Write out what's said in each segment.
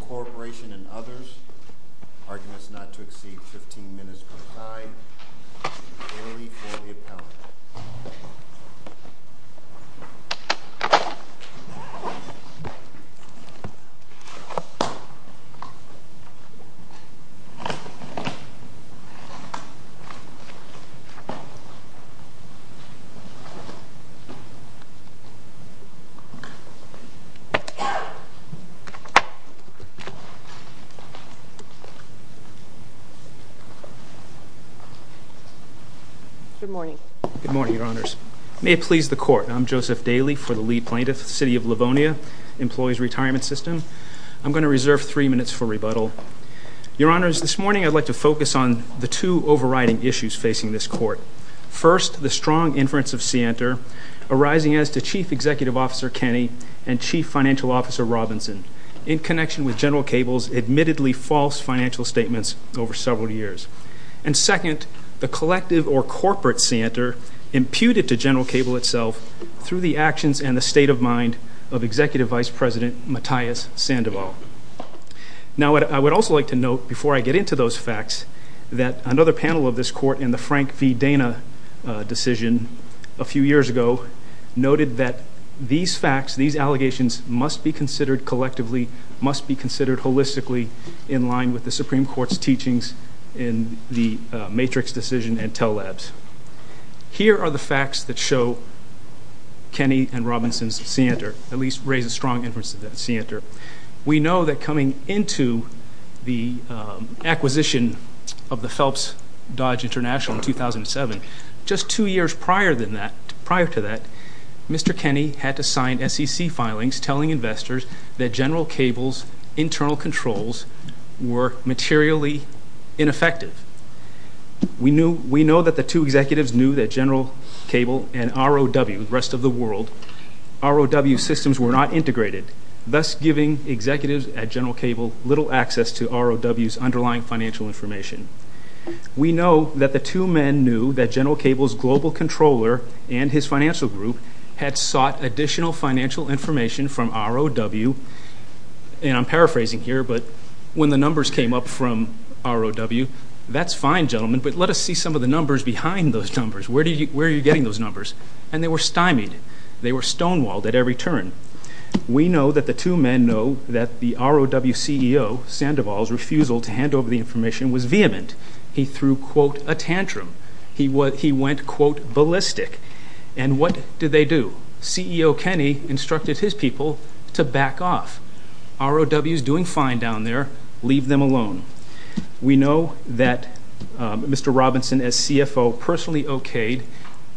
Corporation and others, arguments not to exceed 15 minutes per time, and an early for good morning. Good morning, Your Honors. May it please the Court, I'm Joseph Daly for the lead plaintiff, City of Livonia, Employees Retirement System. I'm going to reserve three minutes for rebuttal. Your Honors, this morning I'd like to focus on the two overriding issues facing this Court. First, the strong inference of scienter arising as to Chief Executive Officer Kenny and Chief Financial Officer Robinson in connection with General Cable's admittedly false financial statements over several years. And second, the collective or corporate scienter imputed to General Cable itself through the actions and the state of mind of Executive Vice President Matthias Sandoval. Now, I would also like to note, before I get into those facts, that another panel of this Court in the Frank v. Dana decision a few years ago noted that these facts, these allegations, must be considered collectively, must be considered holistically, in line with the Supreme Court's teachings in the matrix decision and tell labs. Here are the facts that show Kenny and Robinson's scienter, at least raise a strong inference of that scienter. We know that coming into the acquisition of the Phelps Dodge International in 2007, just two years prior than that, prior to that, Mr. Kenny had to sign SEC filings telling investors that General Cable's internal controls were materially ineffective. We know that the two executives knew that General Cable and ROW systems were not integrated, thus giving executives at General Cable little access to ROW's underlying financial information. We know that the two men knew that General Cable's global controller and his financial group had sought additional financial information from ROW, and I'm paraphrasing here, but when the numbers came up from ROW, that's fine, gentlemen, but let us see some of the numbers behind those numbers. Where are you getting those numbers? And they were stonewalled at every turn. We know that the two men know that the ROW CEO, Sandoval's refusal to hand over the information was vehement. He threw, quote, a tantrum. He went, quote, ballistic. And what did they do? CEO Kenny instructed his people to back off. ROW's doing fine down there, leave them alone. We know that Mr. Robinson, as CFO, personally okayed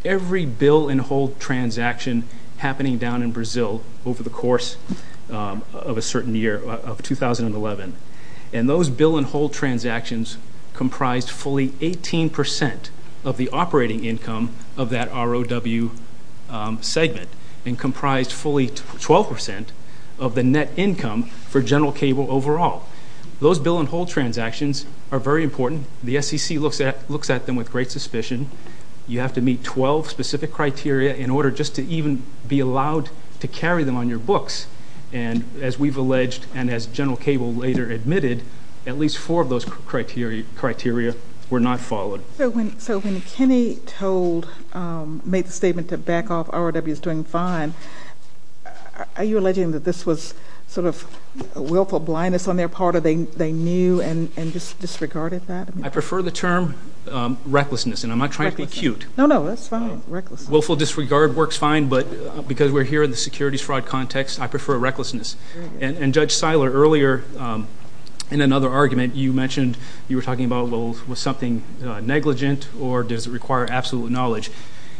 every bill and hold transaction happening down in Brazil over the course of a certain year, of 2011, and those bill and hold transactions comprised fully 18% of the operating income of that ROW segment and comprised fully 12% of the net income for General Cable overall. Those bill and hold transactions are very important. The SEC looks at looks at them with great suspicion. You have to meet 12 specific criteria in order just to even be allowed to carry them on your books. And as we've alleged, and as General Cable later admitted, at least four of those criteria were not followed. So when Kenny told, made the statement to back off, ROW's doing fine, are you alleging that this was sort of willful blindness on their part, or they knew and just disregarded that? I prefer the term recklessness, and I'm not trying to be cute. No, no, that's fine. Willful disregard works fine, but because we're here in the securities fraud context, I prefer recklessness. And Judge Seiler, earlier in another argument, you mentioned you were talking about, well, was something negligent, or does it require absolute knowledge?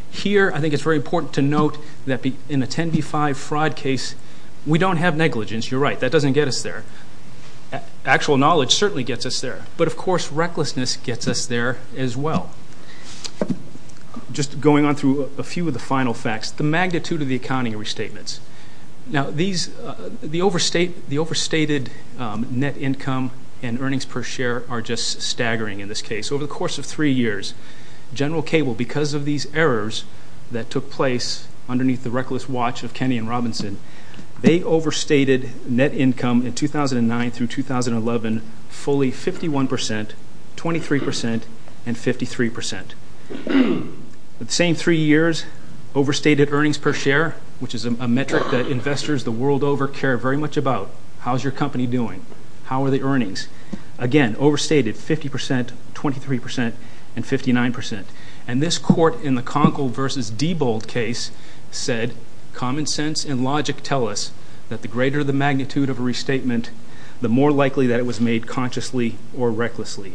Here, I think it's very important to note that in a 10b-5 fraud case, we don't have negligence. You're right, that doesn't get us there. Actual knowledge certainly gets us there, but of course, recklessness gets us there as well. Just going on through a few of the final facts, the magnitude of the accounting restatements. Now, the overstated net income and earnings per share are just staggering in this case. Over the course of three years, General Cable, because of these errors that took place underneath the 2009 through 2011, fully 51%, 23%, and 53%. The same three years, overstated earnings per share, which is a metric that investors the world over care very much about. How's your company doing? How are the earnings? Again, overstated, 50%, 23%, and 59%. And this court in the Conkle v. Debold case said, common sense and logic tell us that the greater the the more likely that it was made consciously or recklessly.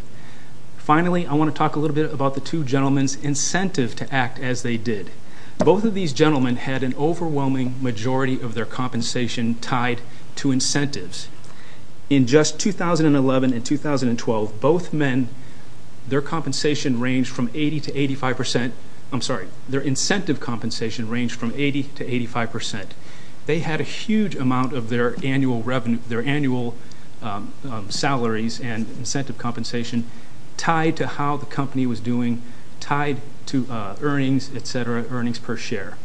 Finally, I want to talk a little bit about the two gentlemen's incentive to act as they did. Both of these gentlemen had an overwhelming majority of their compensation tied to incentives. In just 2011 and 2012, both men, their compensation ranged from 80% to 85%. I'm sorry, their incentive compensation ranged from 80% to 85%. They had a huge amount of their annual revenue, their annual salaries and incentive compensation tied to how the company was doing, tied to earnings, et cetera, earnings per share.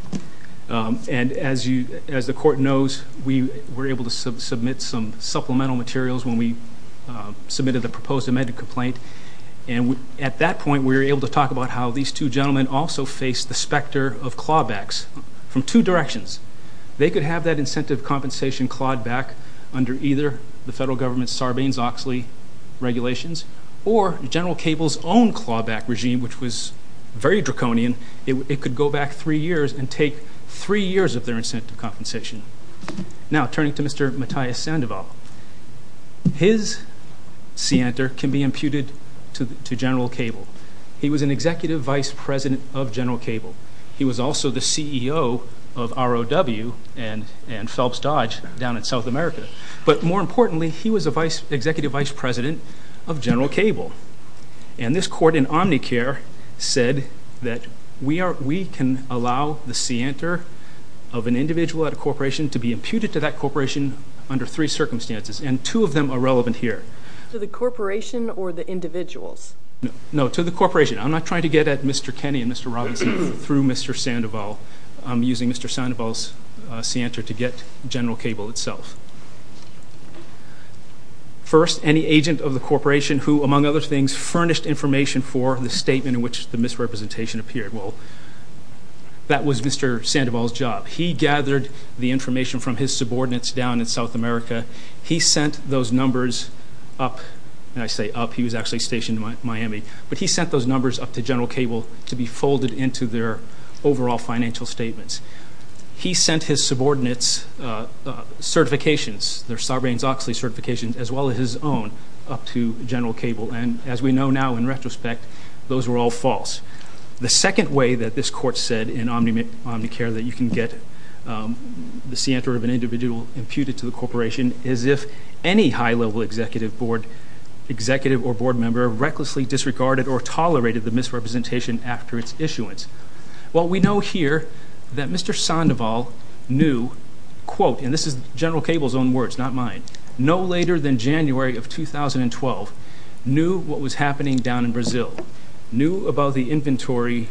And as the court knows, we were able to submit some supplemental materials when we submitted the proposed amended complaint. And at that point, we were able to talk about how these two gentlemen also faced the specter of clawbacks from two directions. They could have that incentive compensation clawed back under either the federal government's Sarbanes-Oxley regulations or General Cable's own clawback regime, which was very draconian. It could go back three years and take three years of their incentive compensation. Now, turning to Mr. Matthias Sandoval, his scienter can be imputed to General Cable. He was an executive vice president of General Cable. He was also the CEO of ROW and Phelps Dodge down in South America. But more importantly, he was an executive vice president of General Cable. And this court in Omnicare said that we can allow the scienter of an individual at a corporation to be imputed to that corporation under three circumstances, and two of them are relevant here. To the corporation or the individuals? No, to the corporation. I'm not trying to get at Mr. Kenney and Mr. Robinson through Mr. Sandoval. I'm using Mr. Sandoval's scienter to get General Cable itself. First, any agent of the corporation who, among other things, furnished information for the statement in which the misrepresentation appeared. Well, that was Mr. Sandoval's job. He gathered the information from his subordinates down in South America. He sent those numbers up, and I say up, he was actually stationed in Miami. But he sent those numbers up to General Cable to be folded into their overall financial statements. He sent his subordinates certifications, their Sarbanes-Oxley certifications, as well as his own, up to General Cable. And as we know now in retrospect, those were all false. The second way that this court said in Omnicare that you can get the scienter of an individual imputed to the corporation, is if any high level executive or board member recklessly disregarded or tolerated the misrepresentation after its issuance. Well, we know here that Mr. Sandoval knew, quote, and this is General Cable's own words, not mine. No later than January of 2012, knew what was happening down in Brazil. Knew about the inventory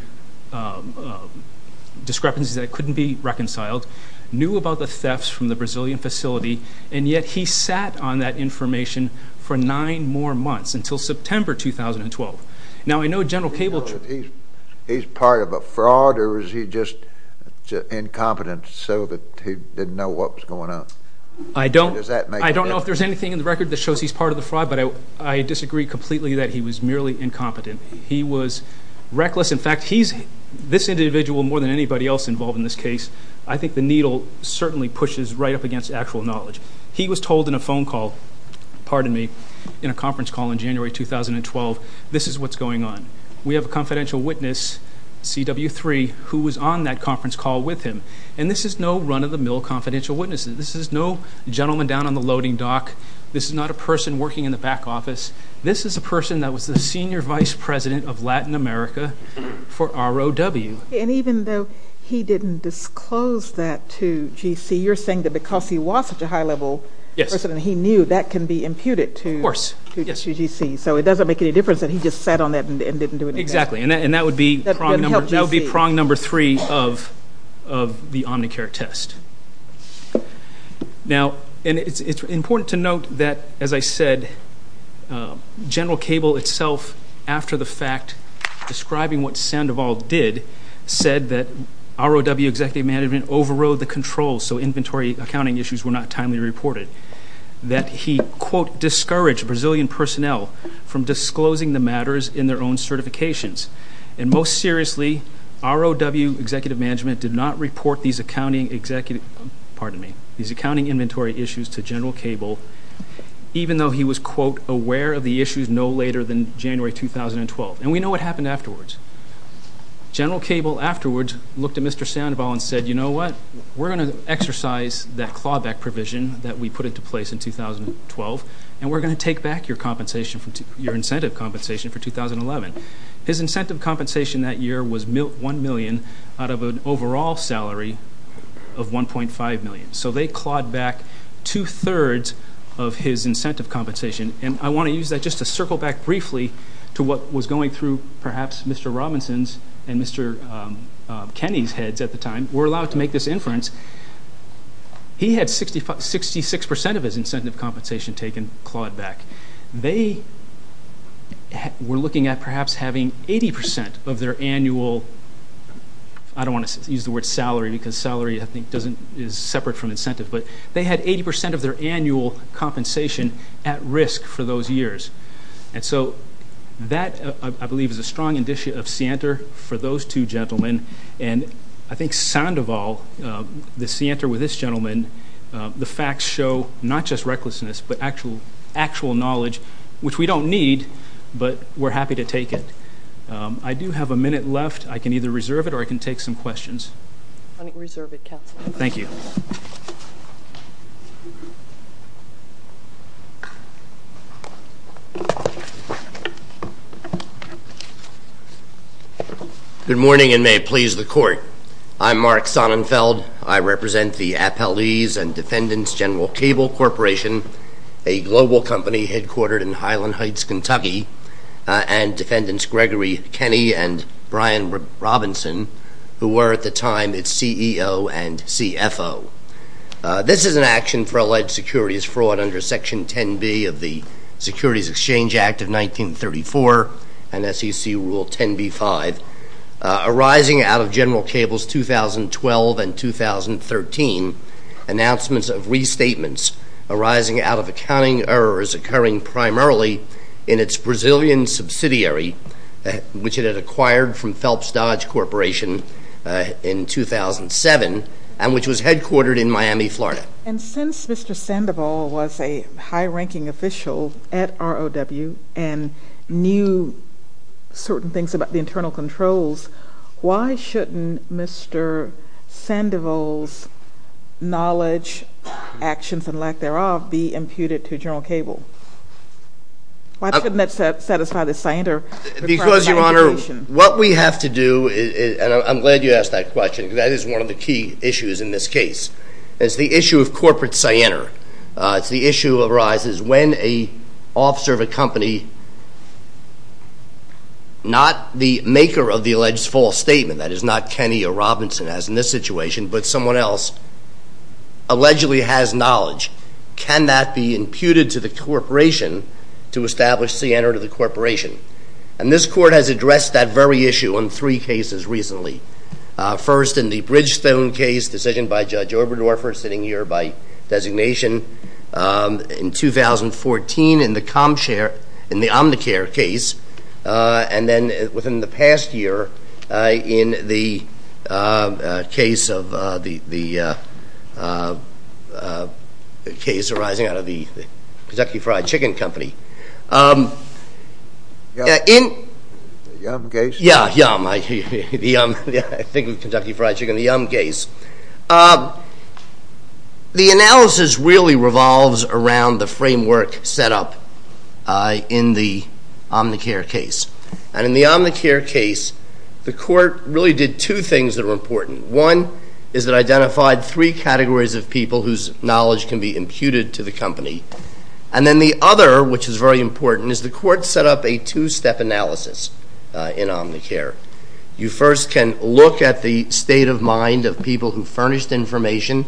discrepancies that couldn't be reconciled. Knew about the thefts from the Brazilian facility, and yet he sat on that information for nine more months, until September 2012. Now, I know General Cable... He's part of a fraud, or is he just incompetent so that he didn't know what was going on? I don't know if there's anything in the record that shows he's part of the fraud, but I disagree completely that he was merely incompetent. He was reckless. In fact, he's, this individual, more than anybody else involved in this case, I think the needle certainly pushes right up against actual knowledge. He was told in a phone call, pardon me, in a conference call in January 2012, this is what's going on. We have a confidential witness, CW3, who was on that conference call with him. And this is no run-of-the-mill confidential witness. This is no gentleman down on the loading dock. This is not a person working in the back office. This is a person that was the senior vice president of Latin America for ROW. And even though he didn't disclose that to GC, you're saying that because he was such a high-level person, he knew that can be imputed to GC. So it doesn't make any difference that he just sat on that and didn't do anything. Exactly. And that would be prong number three of the Omnicare test. Now, and it's important to note that, as I said, General Cable itself, after the fact describing what Sandoval did, said that ROW executive management overrode the controls, so inventory accounting issues were not timely reported. That he, quote, discouraged Brazilian personnel from disclosing the matters in their own certifications. And most seriously, ROW executive management did not report these accounting executive, pardon me, these accounting inventory issues to General Cable, even though he was, quote, aware of the issues no later than January 2012, and we know what happened afterwards. General Cable, afterwards, looked at Mr. Sandoval and said, you know what? We're going to exercise that clawback provision that we put into place in 2012, and we're going to take back your incentive compensation for 2011. His incentive compensation that year was $1 million out of an overall salary of $1.5 million. So they clawed back two-thirds of his incentive compensation. And I want to use that just to circle back briefly to what was going through, perhaps, Mr. Robinson's and Mr. Kenney's heads at the time were allowed to make this inference. He had 66% of his incentive compensation taken, clawed back. They were looking at perhaps having 80% of their annual, I don't want to use the word salary because salary, I think, is separate from incentive, but they had 80% of their annual compensation at risk for those years. And so that, I believe, is a strong indicia of scienter for those two gentlemen. And I think Sandoval, the scienter with this gentleman, the facts show not just recklessness but actual knowledge, which we don't need, but we're happy to take it. I do have a minute left. I can either reserve it or I can take some questions. I reserve it, counsel. Thank you. Good morning, and may it please the court. I'm Mark Sonnenfeld. I represent the Appellees and Defendants General Cable Corporation, a global company headquartered in Highland Heights, Kentucky, and Defendants Gregory Kenney and Brian Robinson, who were at the time its CEO and CFO. This is an action for alleged securities fraud under Section 10B of the Securities Exchange Act of 1934 and SEC Rule 10B-5. Arising out of General Cable's 2012 and 2013 announcements of restatements arising out of accounting errors occurring primarily in its Brazilian subsidiary, which it had acquired from Phelps Dodge Corporation in 2007, and which was headquartered in Miami, Florida. And since Mr. Sandoval was a high-ranking official at ROW and knew certain things about the internal controls, why shouldn't Mr. Sandoval's knowledge, actions, and lack thereof be imputed to General Cable? Why shouldn't that satisfy the scienter? Because, Your Honor, what we have to do, and I'm glad you asked that question, because that is one of the key issues in this case, is the issue of corporate scienter. It's the issue that arises when an officer of a company, not the maker of the alleged false statement, that is not Kenny or Robinson, as in this situation, but someone else, allegedly has knowledge. Can that be imputed to the corporation to establish scienter to the corporation? And this Court has addressed that very issue in three cases recently. First, in the Bridgestone case, decision by Judge Oberdorfer, sitting here by designation, in 2014 in the ComShare, in the Omnicare case, and then within the past year in the case of, the case arising out of the Kentucky Fried Chicken Company. In. The Yum case? Yeah, Yum, I think of Kentucky Fried Chicken, the Yum case. The analysis really revolves around the framework set up in the Omnicare case. And in the Omnicare case, the Court really did two things that are important. One is that identified three categories of people whose knowledge can be imputed to the company, and then the other, which is very important, is the Court set up a two-step analysis in Omnicare. You first can look at the state of mind of people who furnished information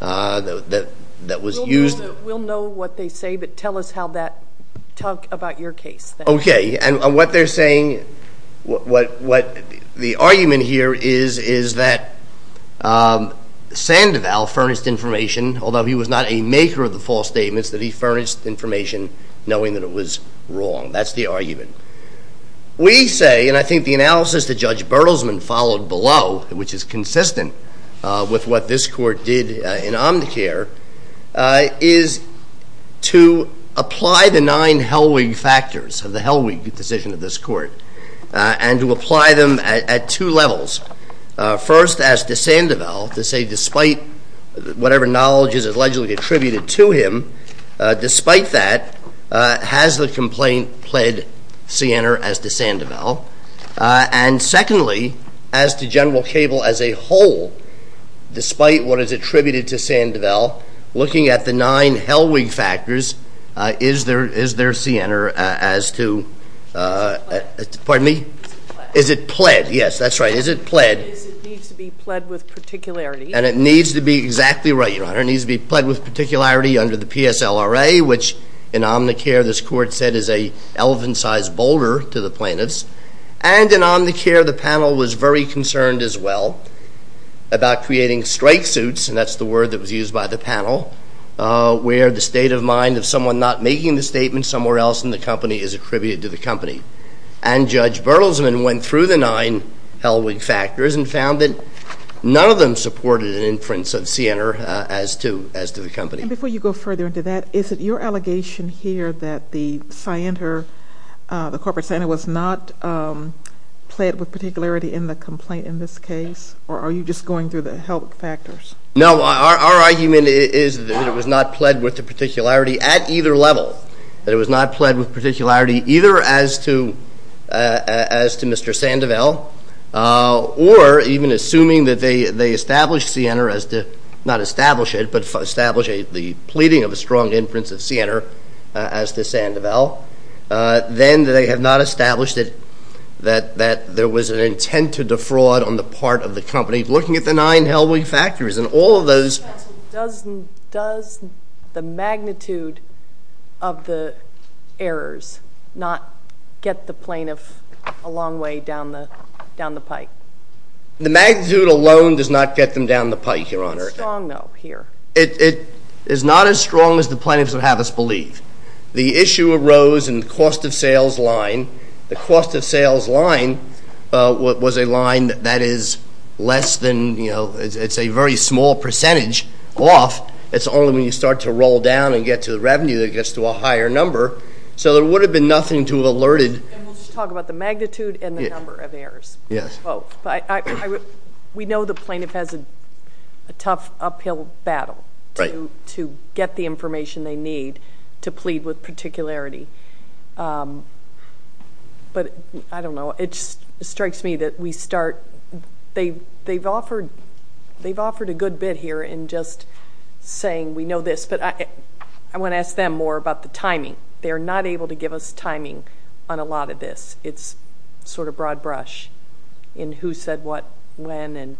that was used. We'll know what they say, but tell us how that, talk about your case. Okay, and what they're saying, what the argument here is, is that Sandoval furnished information, although he was not a maker of the false statements, that he furnished information knowing that it was wrong. That's the argument. We say, and I think the analysis that Judge Bertelsman followed below, which is consistent with what this Court did in Omnicare, is to apply the nine Hellwig factors of the Hellwig decision of this Court, and to apply them at two levels. First, as to Sandoval, to say despite whatever knowledge is allegedly attributed to him, despite that, has the complaint pled Sienner as to Sandoval? And secondly, as to General Cable as a whole, despite what is attributed to Sandoval, looking at the nine Hellwig factors, is there Sienner as to, pardon me, is it pled? Yes, that's right, is it pled? It needs to be pled with particularity. And it needs to be exactly right, Your Honor. It needs to be pled with particularity under the PSLRA, which in Omnicare, this Court said is a elephant-sized boulder to the plaintiffs. And in Omnicare, the panel was very concerned as well about creating strike suits, and that's the word that was used by the panel, where the state of mind of someone not making the statement somewhere else in the company is attributed to the company. And Judge Bertelsman went through the nine Hellwig factors and found that none of them supported an inference of Sienner as to the company. And before you go further into that, is it your allegation here that the Sienner, the corporate Sienner was not pled with particularity in the complaint in this case, or are you just going through the Hellwig factors? No, our argument is that it was not pled with the particularity at either level, that it was not pled with particularity either as to Mr. Sandoval, or even assuming that they established Sienner as to, not establish it, but establish the pleading of a strong inference of Sienner as to Sandoval, then they have not established that there was an intent to defraud on the part of the company looking at the nine Hellwig factors, and all of those. Does the magnitude of the errors not get the plaintiff a long way down the pike? The magnitude alone does not get them down the pike, Your Honor. It's strong though here. It is not as strong as the plaintiffs would have us believe. The issue arose in the cost of sales line. The cost of sales line was a line that is less than, you know, it's a very small percentage off. It's only when you start to roll down and get to the revenue that it gets to a higher number. So there would have been nothing to alerted. And we'll just talk about the magnitude and the number of errors. Yes. We know the plaintiff has a tough uphill battle to get the information they need to plead with particularity, but I don't know. It strikes me that we start, they've offered a good bit here in just saying we know this, but I want to ask them more about the timing. They're not able to give us timing on a lot of this. It's sort of broad brush in who said what, when, and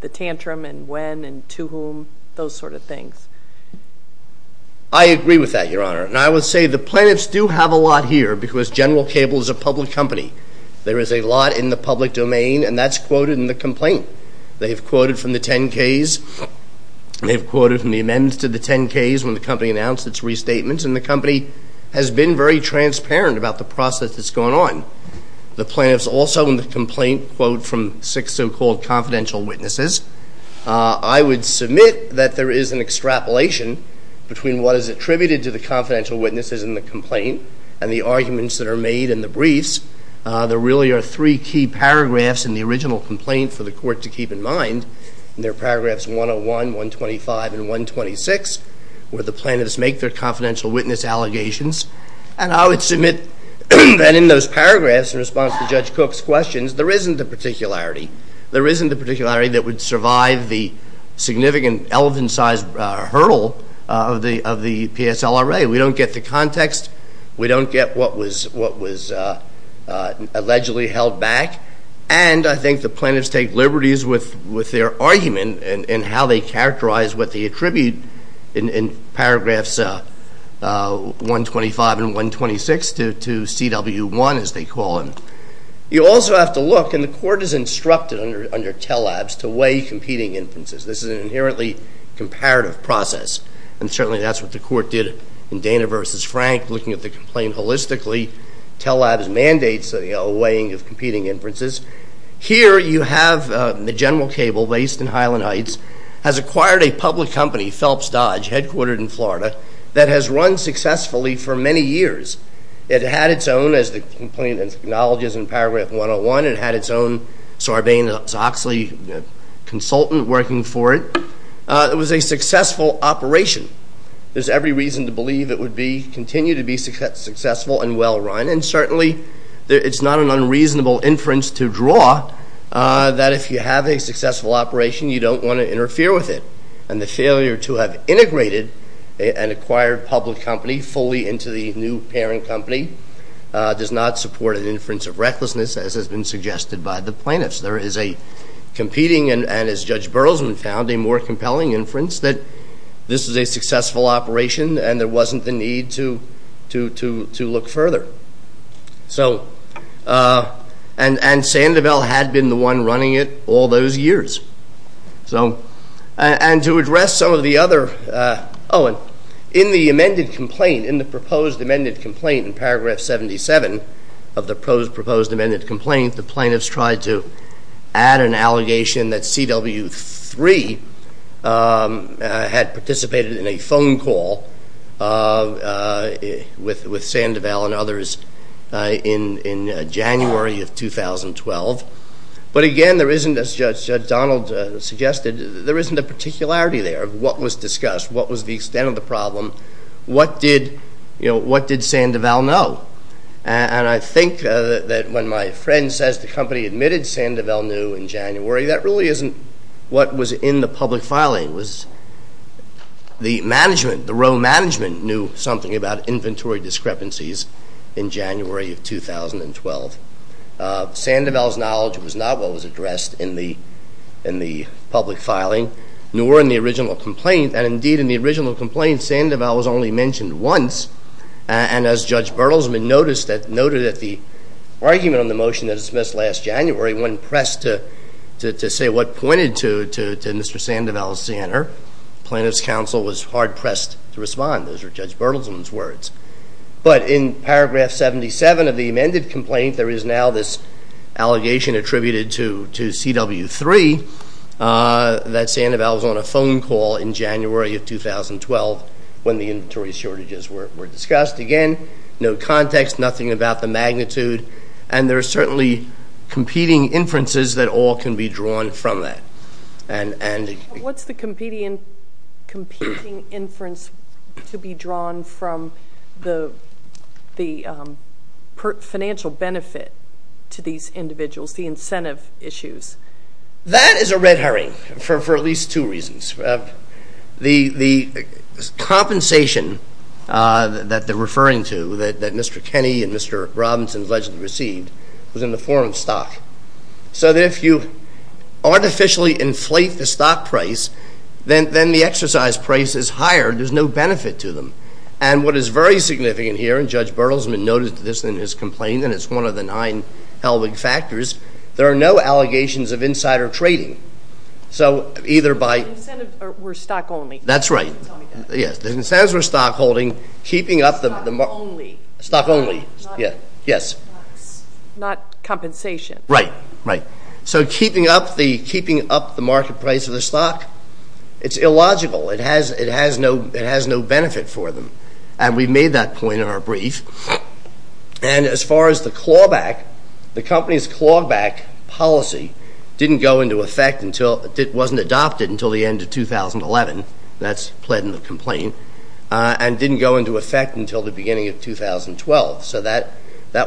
the tantrum, and when, and to whom, those sort of things. I agree with that, Your Honor. And I would say the plaintiffs do have a lot here because General Cable is a public company. There is a lot in the public domain, and that's quoted in the complaint. They've quoted from the 10-Ks, they've quoted from the amendments to the 10-Ks when the company announced its restatements, and the company has been very transparent about the process that's going on. The plaintiffs also in the complaint quote from six so-called confidential witnesses. I would submit that there is an extrapolation between what is attributed to the confidential witnesses in the complaint and the arguments that are made in the briefs, there really are three key paragraphs in the original complaint for the court to keep in mind, and they're paragraphs 101, 125, and 126, where the plaintiffs make their confidential witness allegations. And I would submit that in those paragraphs, in response to Judge Cook's questions, there isn't a particularity, there isn't a particularity that would survive the significant elephant-sized hurdle of the PSLRA. We don't get the context, we don't get what was allegedly held back, and I think the plaintiffs take liberties with their argument and how they characterize what they attribute in paragraphs 125 and 126 to CW1, as they call them. You also have to look, and the court is instructed under TELABS to weigh competing inferences. This is an inherently comparative process, and certainly that's what the court did in Dana versus Frank, looking at the complaint holistically. TELABS mandates a weighing of competing inferences. Here you have the General Cable, based in Highland Heights, has acquired a public company, Phelps Dodge, headquartered in Florida, that has run successfully for many years. It had its own, as the complaint acknowledges in paragraph 101, it had its own Sarbanes-Oxley consultant working for it. It was a successful operation. There's every reason to believe it would continue to be successful and well-run, and certainly it's not an unreasonable inference to draw that if you have a successful operation, you don't want to interfere with it. And the failure to have integrated an acquired public company fully into the new parent company does not support an inference of recklessness, as has been suggested by the plaintiffs. There is a competing, and as Judge Burleson found, a more compelling inference that this is a successful operation and there wasn't the need to look further. So, and Sandoval had been the one running it all those years. So, and to address some of the other, oh, and in the amended complaint, in the proposed amended complaint in paragraph 77 of the proposed amended complaint, the plaintiffs tried to add an allegation that CW3 had participated in a phone call with Sandoval and others in January of 2012. But again, there isn't, as Judge Donald suggested, there isn't a particularity there of what was discussed, what was the extent of the problem, what did, you know, what did Sandoval know? And I think that when my friend says the company admitted Sandoval knew in January, that really isn't what was in the public filing. It was the management, the row management knew something about inventory discrepancies in January of 2012. Sandoval's knowledge was not what was addressed in the public filing, nor in the original complaint. And indeed, in the original complaint, Sandoval was only mentioned once. And as Judge Bertelsman noticed that, noted that the argument on the motion that was dismissed last January wasn't pressed to say what pointed to Mr. Sandoval's center. Plaintiff's counsel was hard pressed to respond. Those were Judge Bertelsman's words. But in paragraph 77 of the amended complaint, there is now this allegation attributed to CW3 that Sandoval was on a phone call in January of 2012 when the inventory shortages were discussed. Again, no context, nothing about the magnitude. And there are certainly competing inferences that all can be drawn from that. And... What's the competing inference to be drawn from the financial benefit to these individuals, the incentive issues? That is a red herring for at least two reasons. The compensation that they're referring to, that Mr. Kenney and Mr. Robinson allegedly received, was in the form of stock. So that if you artificially inflate the stock price, then the exercise price is higher. There's no benefit to them. And what is very significant here, and Judge Bertelsman noted this in his complaint, and it's one of the nine hell of a factors, there are no allegations of insider trading. So either by... The incentive were stock only. That's right. Yes, the incentives were stock holding, keeping up the... Stock only. Stock only. Yes. Not compensation. Right, right. So keeping up the market price of the stock, it's illogical. It has no benefit for them. And we made that point in our brief. And as far as the clawback, the company's clawback policy didn't go into effect until... It wasn't adopted until the end of 2011. That's pled in the complaint. And didn't go into effect until the beginning of 2012. So that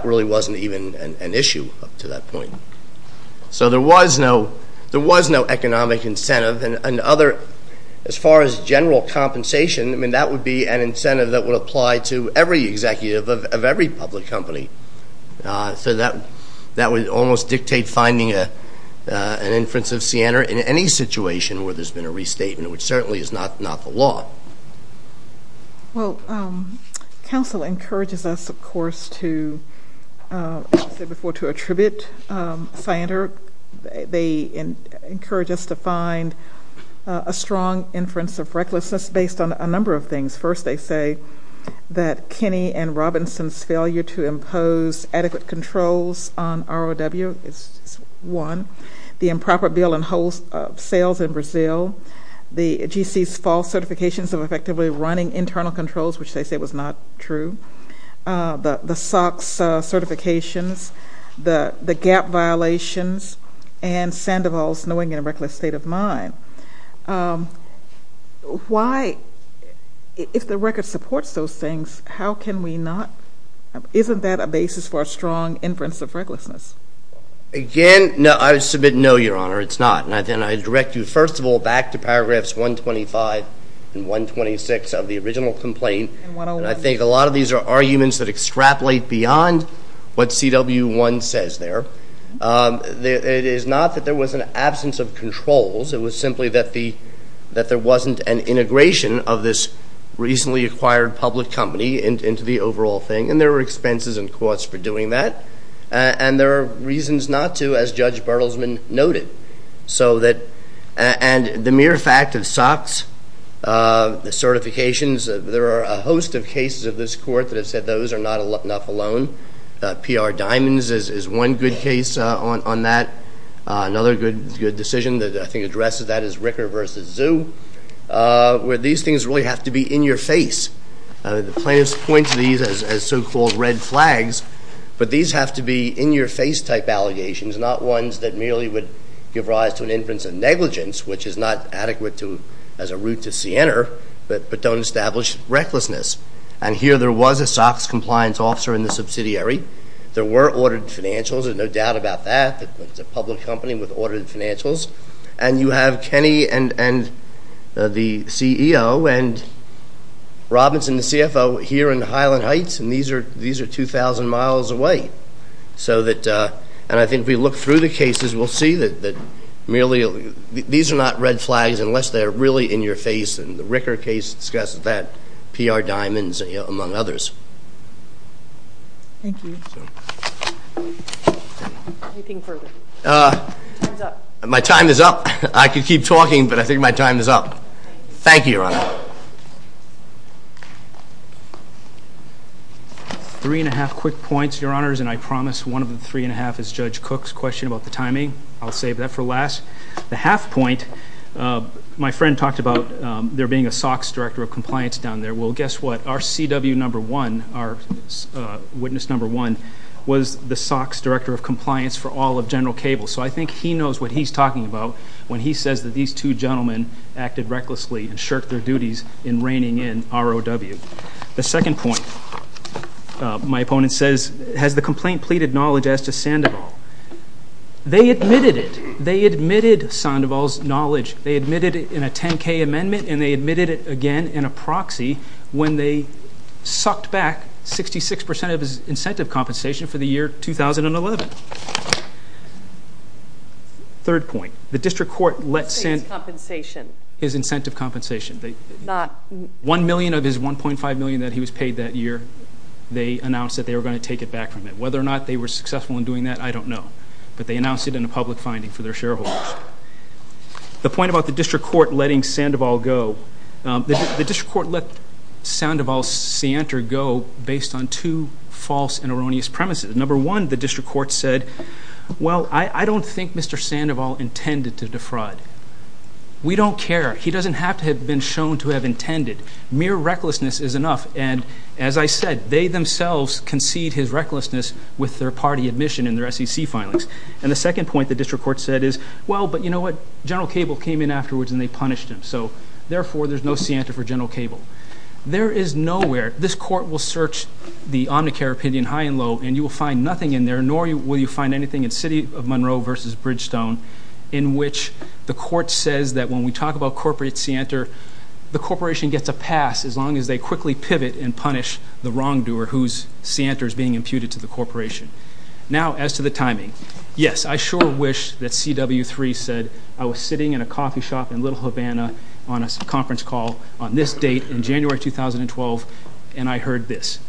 really wasn't even an issue up to that point. So there was no economic incentive. And other... As far as general compensation, I mean, that would be an incentive that would apply to every executive of every public company. So that would almost dictate finding an inference of Sianer in any situation where there's been a restatement, which certainly is not the law. Well, counsel encourages us, of course, to, as I said before, to attribute Sianer. They encourage us to find a strong inference of recklessness based on a number of things. First, they say that Kenny and Robinson's failure to impose adequate controls on ROW is one. The improper bill and wholesales in Brazil. The GC's false certifications of effectively running internal controls, which they say was not true. The SOX certifications. The gap violations. And Sandoval's knowing in a reckless state of mind. Why... If the record supports those things, how can we not... Isn't that a basis for a strong inference of recklessness? Again, no. I submit no, Your Honor. It's not. And then I direct you, first of all, back to paragraphs 125 and 126 of the original complaint. And I think a lot of these are arguments that extrapolate beyond what CW1 says there. It is not that there was an absence of controls. It was simply that there wasn't an integration of this recently acquired public company into the overall thing. And there were expenses and costs for doing that. And there are reasons not to, as Judge Bertelsman noted. So that... And the mere fact of SOX, the certifications, there are a host of cases of this court that have said those are not enough alone. PR Diamonds is one good case on that. Another good decision that I think addresses that is Ricker v. Zoo, where these things really have to be in your face. The plaintiffs point to these as so-called red flags, but these have to be in-your-face type allegations, not ones that merely would give rise to an inference of negligence, which is not adequate as a route to see enter, but don't establish recklessness. And here there was a SOX compliance officer in the subsidiary. There were ordered financials. There's no doubt about that. It's a public company with ordered financials. And you have Kenny and the CEO and Robinson, the CFO, here in Highland Heights. And these are 2,000 miles away. So that, and I think if we look through the cases, we'll see that merely, these are not red flags unless they're really in your face, and the Ricker case discusses that, PR Diamonds among others. Thank you. So. Anything further? My time is up. I could keep talking, but I think my time is up. Thank you, Your Honor. Three and a half quick points, Your Honors, and I promise one of the three and a half is Judge Cook's question about the timing. I'll save that for last. The half point, my friend talked about there being a SOX director of compliance down there. Well, guess what? Our CW number one, our witness number one, was the SOX director of compliance for all of General Cable. So I think he knows what he's talking about when he says that these two gentlemen acted recklessly and shirked their duties in reining in ROW. The second point, my opponent says, has the complaint pleaded knowledge as to Sandoval? They admitted it. They admitted Sandoval's knowledge. They admitted it in a 10K amendment, and they admitted it again in a proxy when they sucked back 66% of his incentive compensation for the year 2011. Third point, the district court let Sandoval's compensation, his incentive compensation, 1 million of his 1.5 million that he was paid that year, they announced that they were going to take it back from him. Whether or not they were successful in doing that, I don't know. But they announced it in a public finding for their shareholders. The point about the district court letting Sandoval go, the district court let Sandoval's seantor go based on two false and erroneous premises. Number one, the district court said, well, I don't think Mr. Sandoval intended to defraud. We don't care. He doesn't have to have been shown to have intended. Mere recklessness is enough. And as I said, they themselves concede his recklessness with their party admission and their SEC filings. And the second point the district court said is, well, but you know what? General Cable came in afterwards and they punished him. So therefore, there's no seantor for General Cable. There is nowhere, this court will search the Omnicare opinion high and low, and you will find nothing in there, nor will you find anything in City of Monroe versus Bridgestone in which the court says that when we talk about corporate seantor, the corporation gets a pass as long as they quickly pivot and punish the wrongdoer whose seantor is being imputed to the corporation. Now, as to the timing, yes, I sure wish that CW3 said I was sitting in a coffee shop in Little Havana on a conference call on this date in January 2012, and I heard this.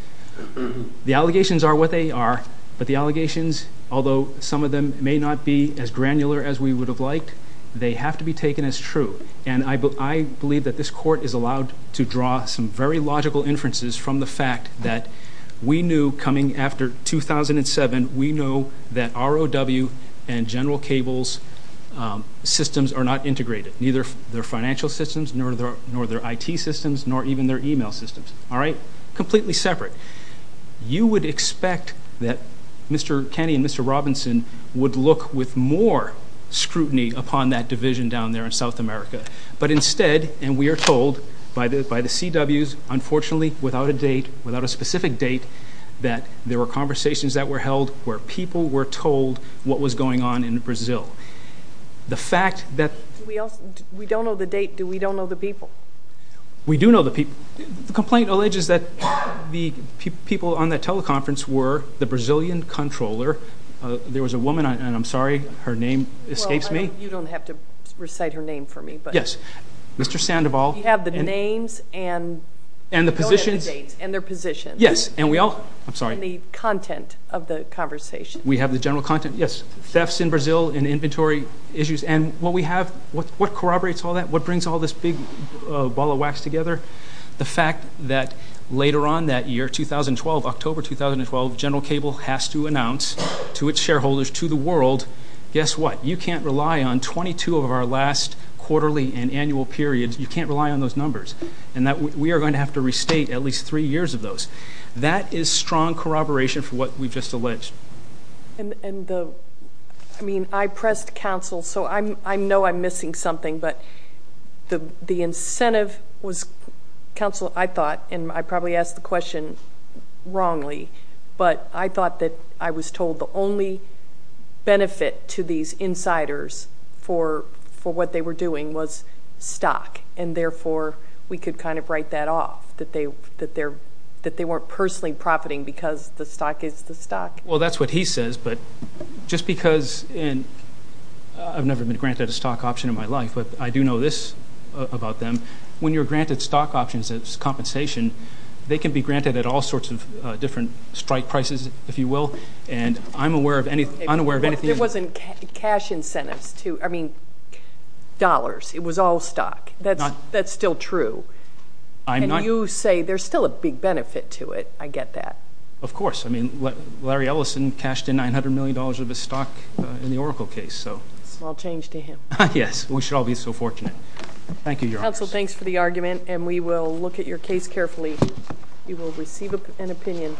The allegations are what they are, but the allegations, although some of them may not be as granular as we would have liked, they have to be taken as true. And I believe that this court is allowed to draw some very logical inferences from the fact that we knew coming after 2007, we know that ROW and General Cable's systems are not integrated. Neither their financial systems, nor their IT systems, nor even their email systems, all right? Completely separate. You would expect that Mr. Kenny and Mr. Robinson would look with more scrutiny upon that division down there in South America. But instead, and we are told by the CWs, unfortunately, without a date, without a specific date, that there were conversations that were held where people were told what was going on in Brazil. The fact that- We don't know the date, do we don't know the people? We do know the people. The complaint alleges that the people on that teleconference were the Brazilian controller. There was a woman, and I'm sorry, her name escapes me. You don't have to recite her name for me, but- Yes, Mr. Sandoval. You have the names and- And the positions. And their positions. Yes, and we all, I'm sorry. And the content of the conversation. We have the general content, yes. Thefts in Brazil and inventory issues, and what we have, what corroborates all that? What brings all this big ball of wax together? The fact that later on that year, 2012, October 2012, General Cable has to announce to its shareholders, to the world, guess what? You can't rely on 22 of our last quarterly and annual periods. You can't rely on those numbers. And that we are going to have to restate at least three years of those. That is strong corroboration for what we've just alleged. And the, I mean, I pressed counsel, so I know I'm missing something. But the incentive was, counsel, I thought, and I probably asked the question wrongly. But I thought that I was told the only benefit to these insiders for what they were doing was stock. And therefore, we could kind of write that off. That they weren't personally profiting because the stock is the stock. Well, that's what he says. But just because, and I've never been granted a stock option in my life, but I do know this about them. When you're granted stock options as compensation, they can be granted at all sorts of different strike prices, if you will. And I'm aware of any, I'm aware of anything. There wasn't cash incentives to, I mean, dollars. It was all stock. That's still true. I'm not. And you say there's still a big benefit to it. I get that. Of course. I mean, Larry Ellison cashed in $900 million of his stock in the Oracle case, so. Small change to him. Yes. We should all be so fortunate. Thank you, Your Honor. Counsel, thanks for the argument, and we will look at your case carefully. You will receive an opinion.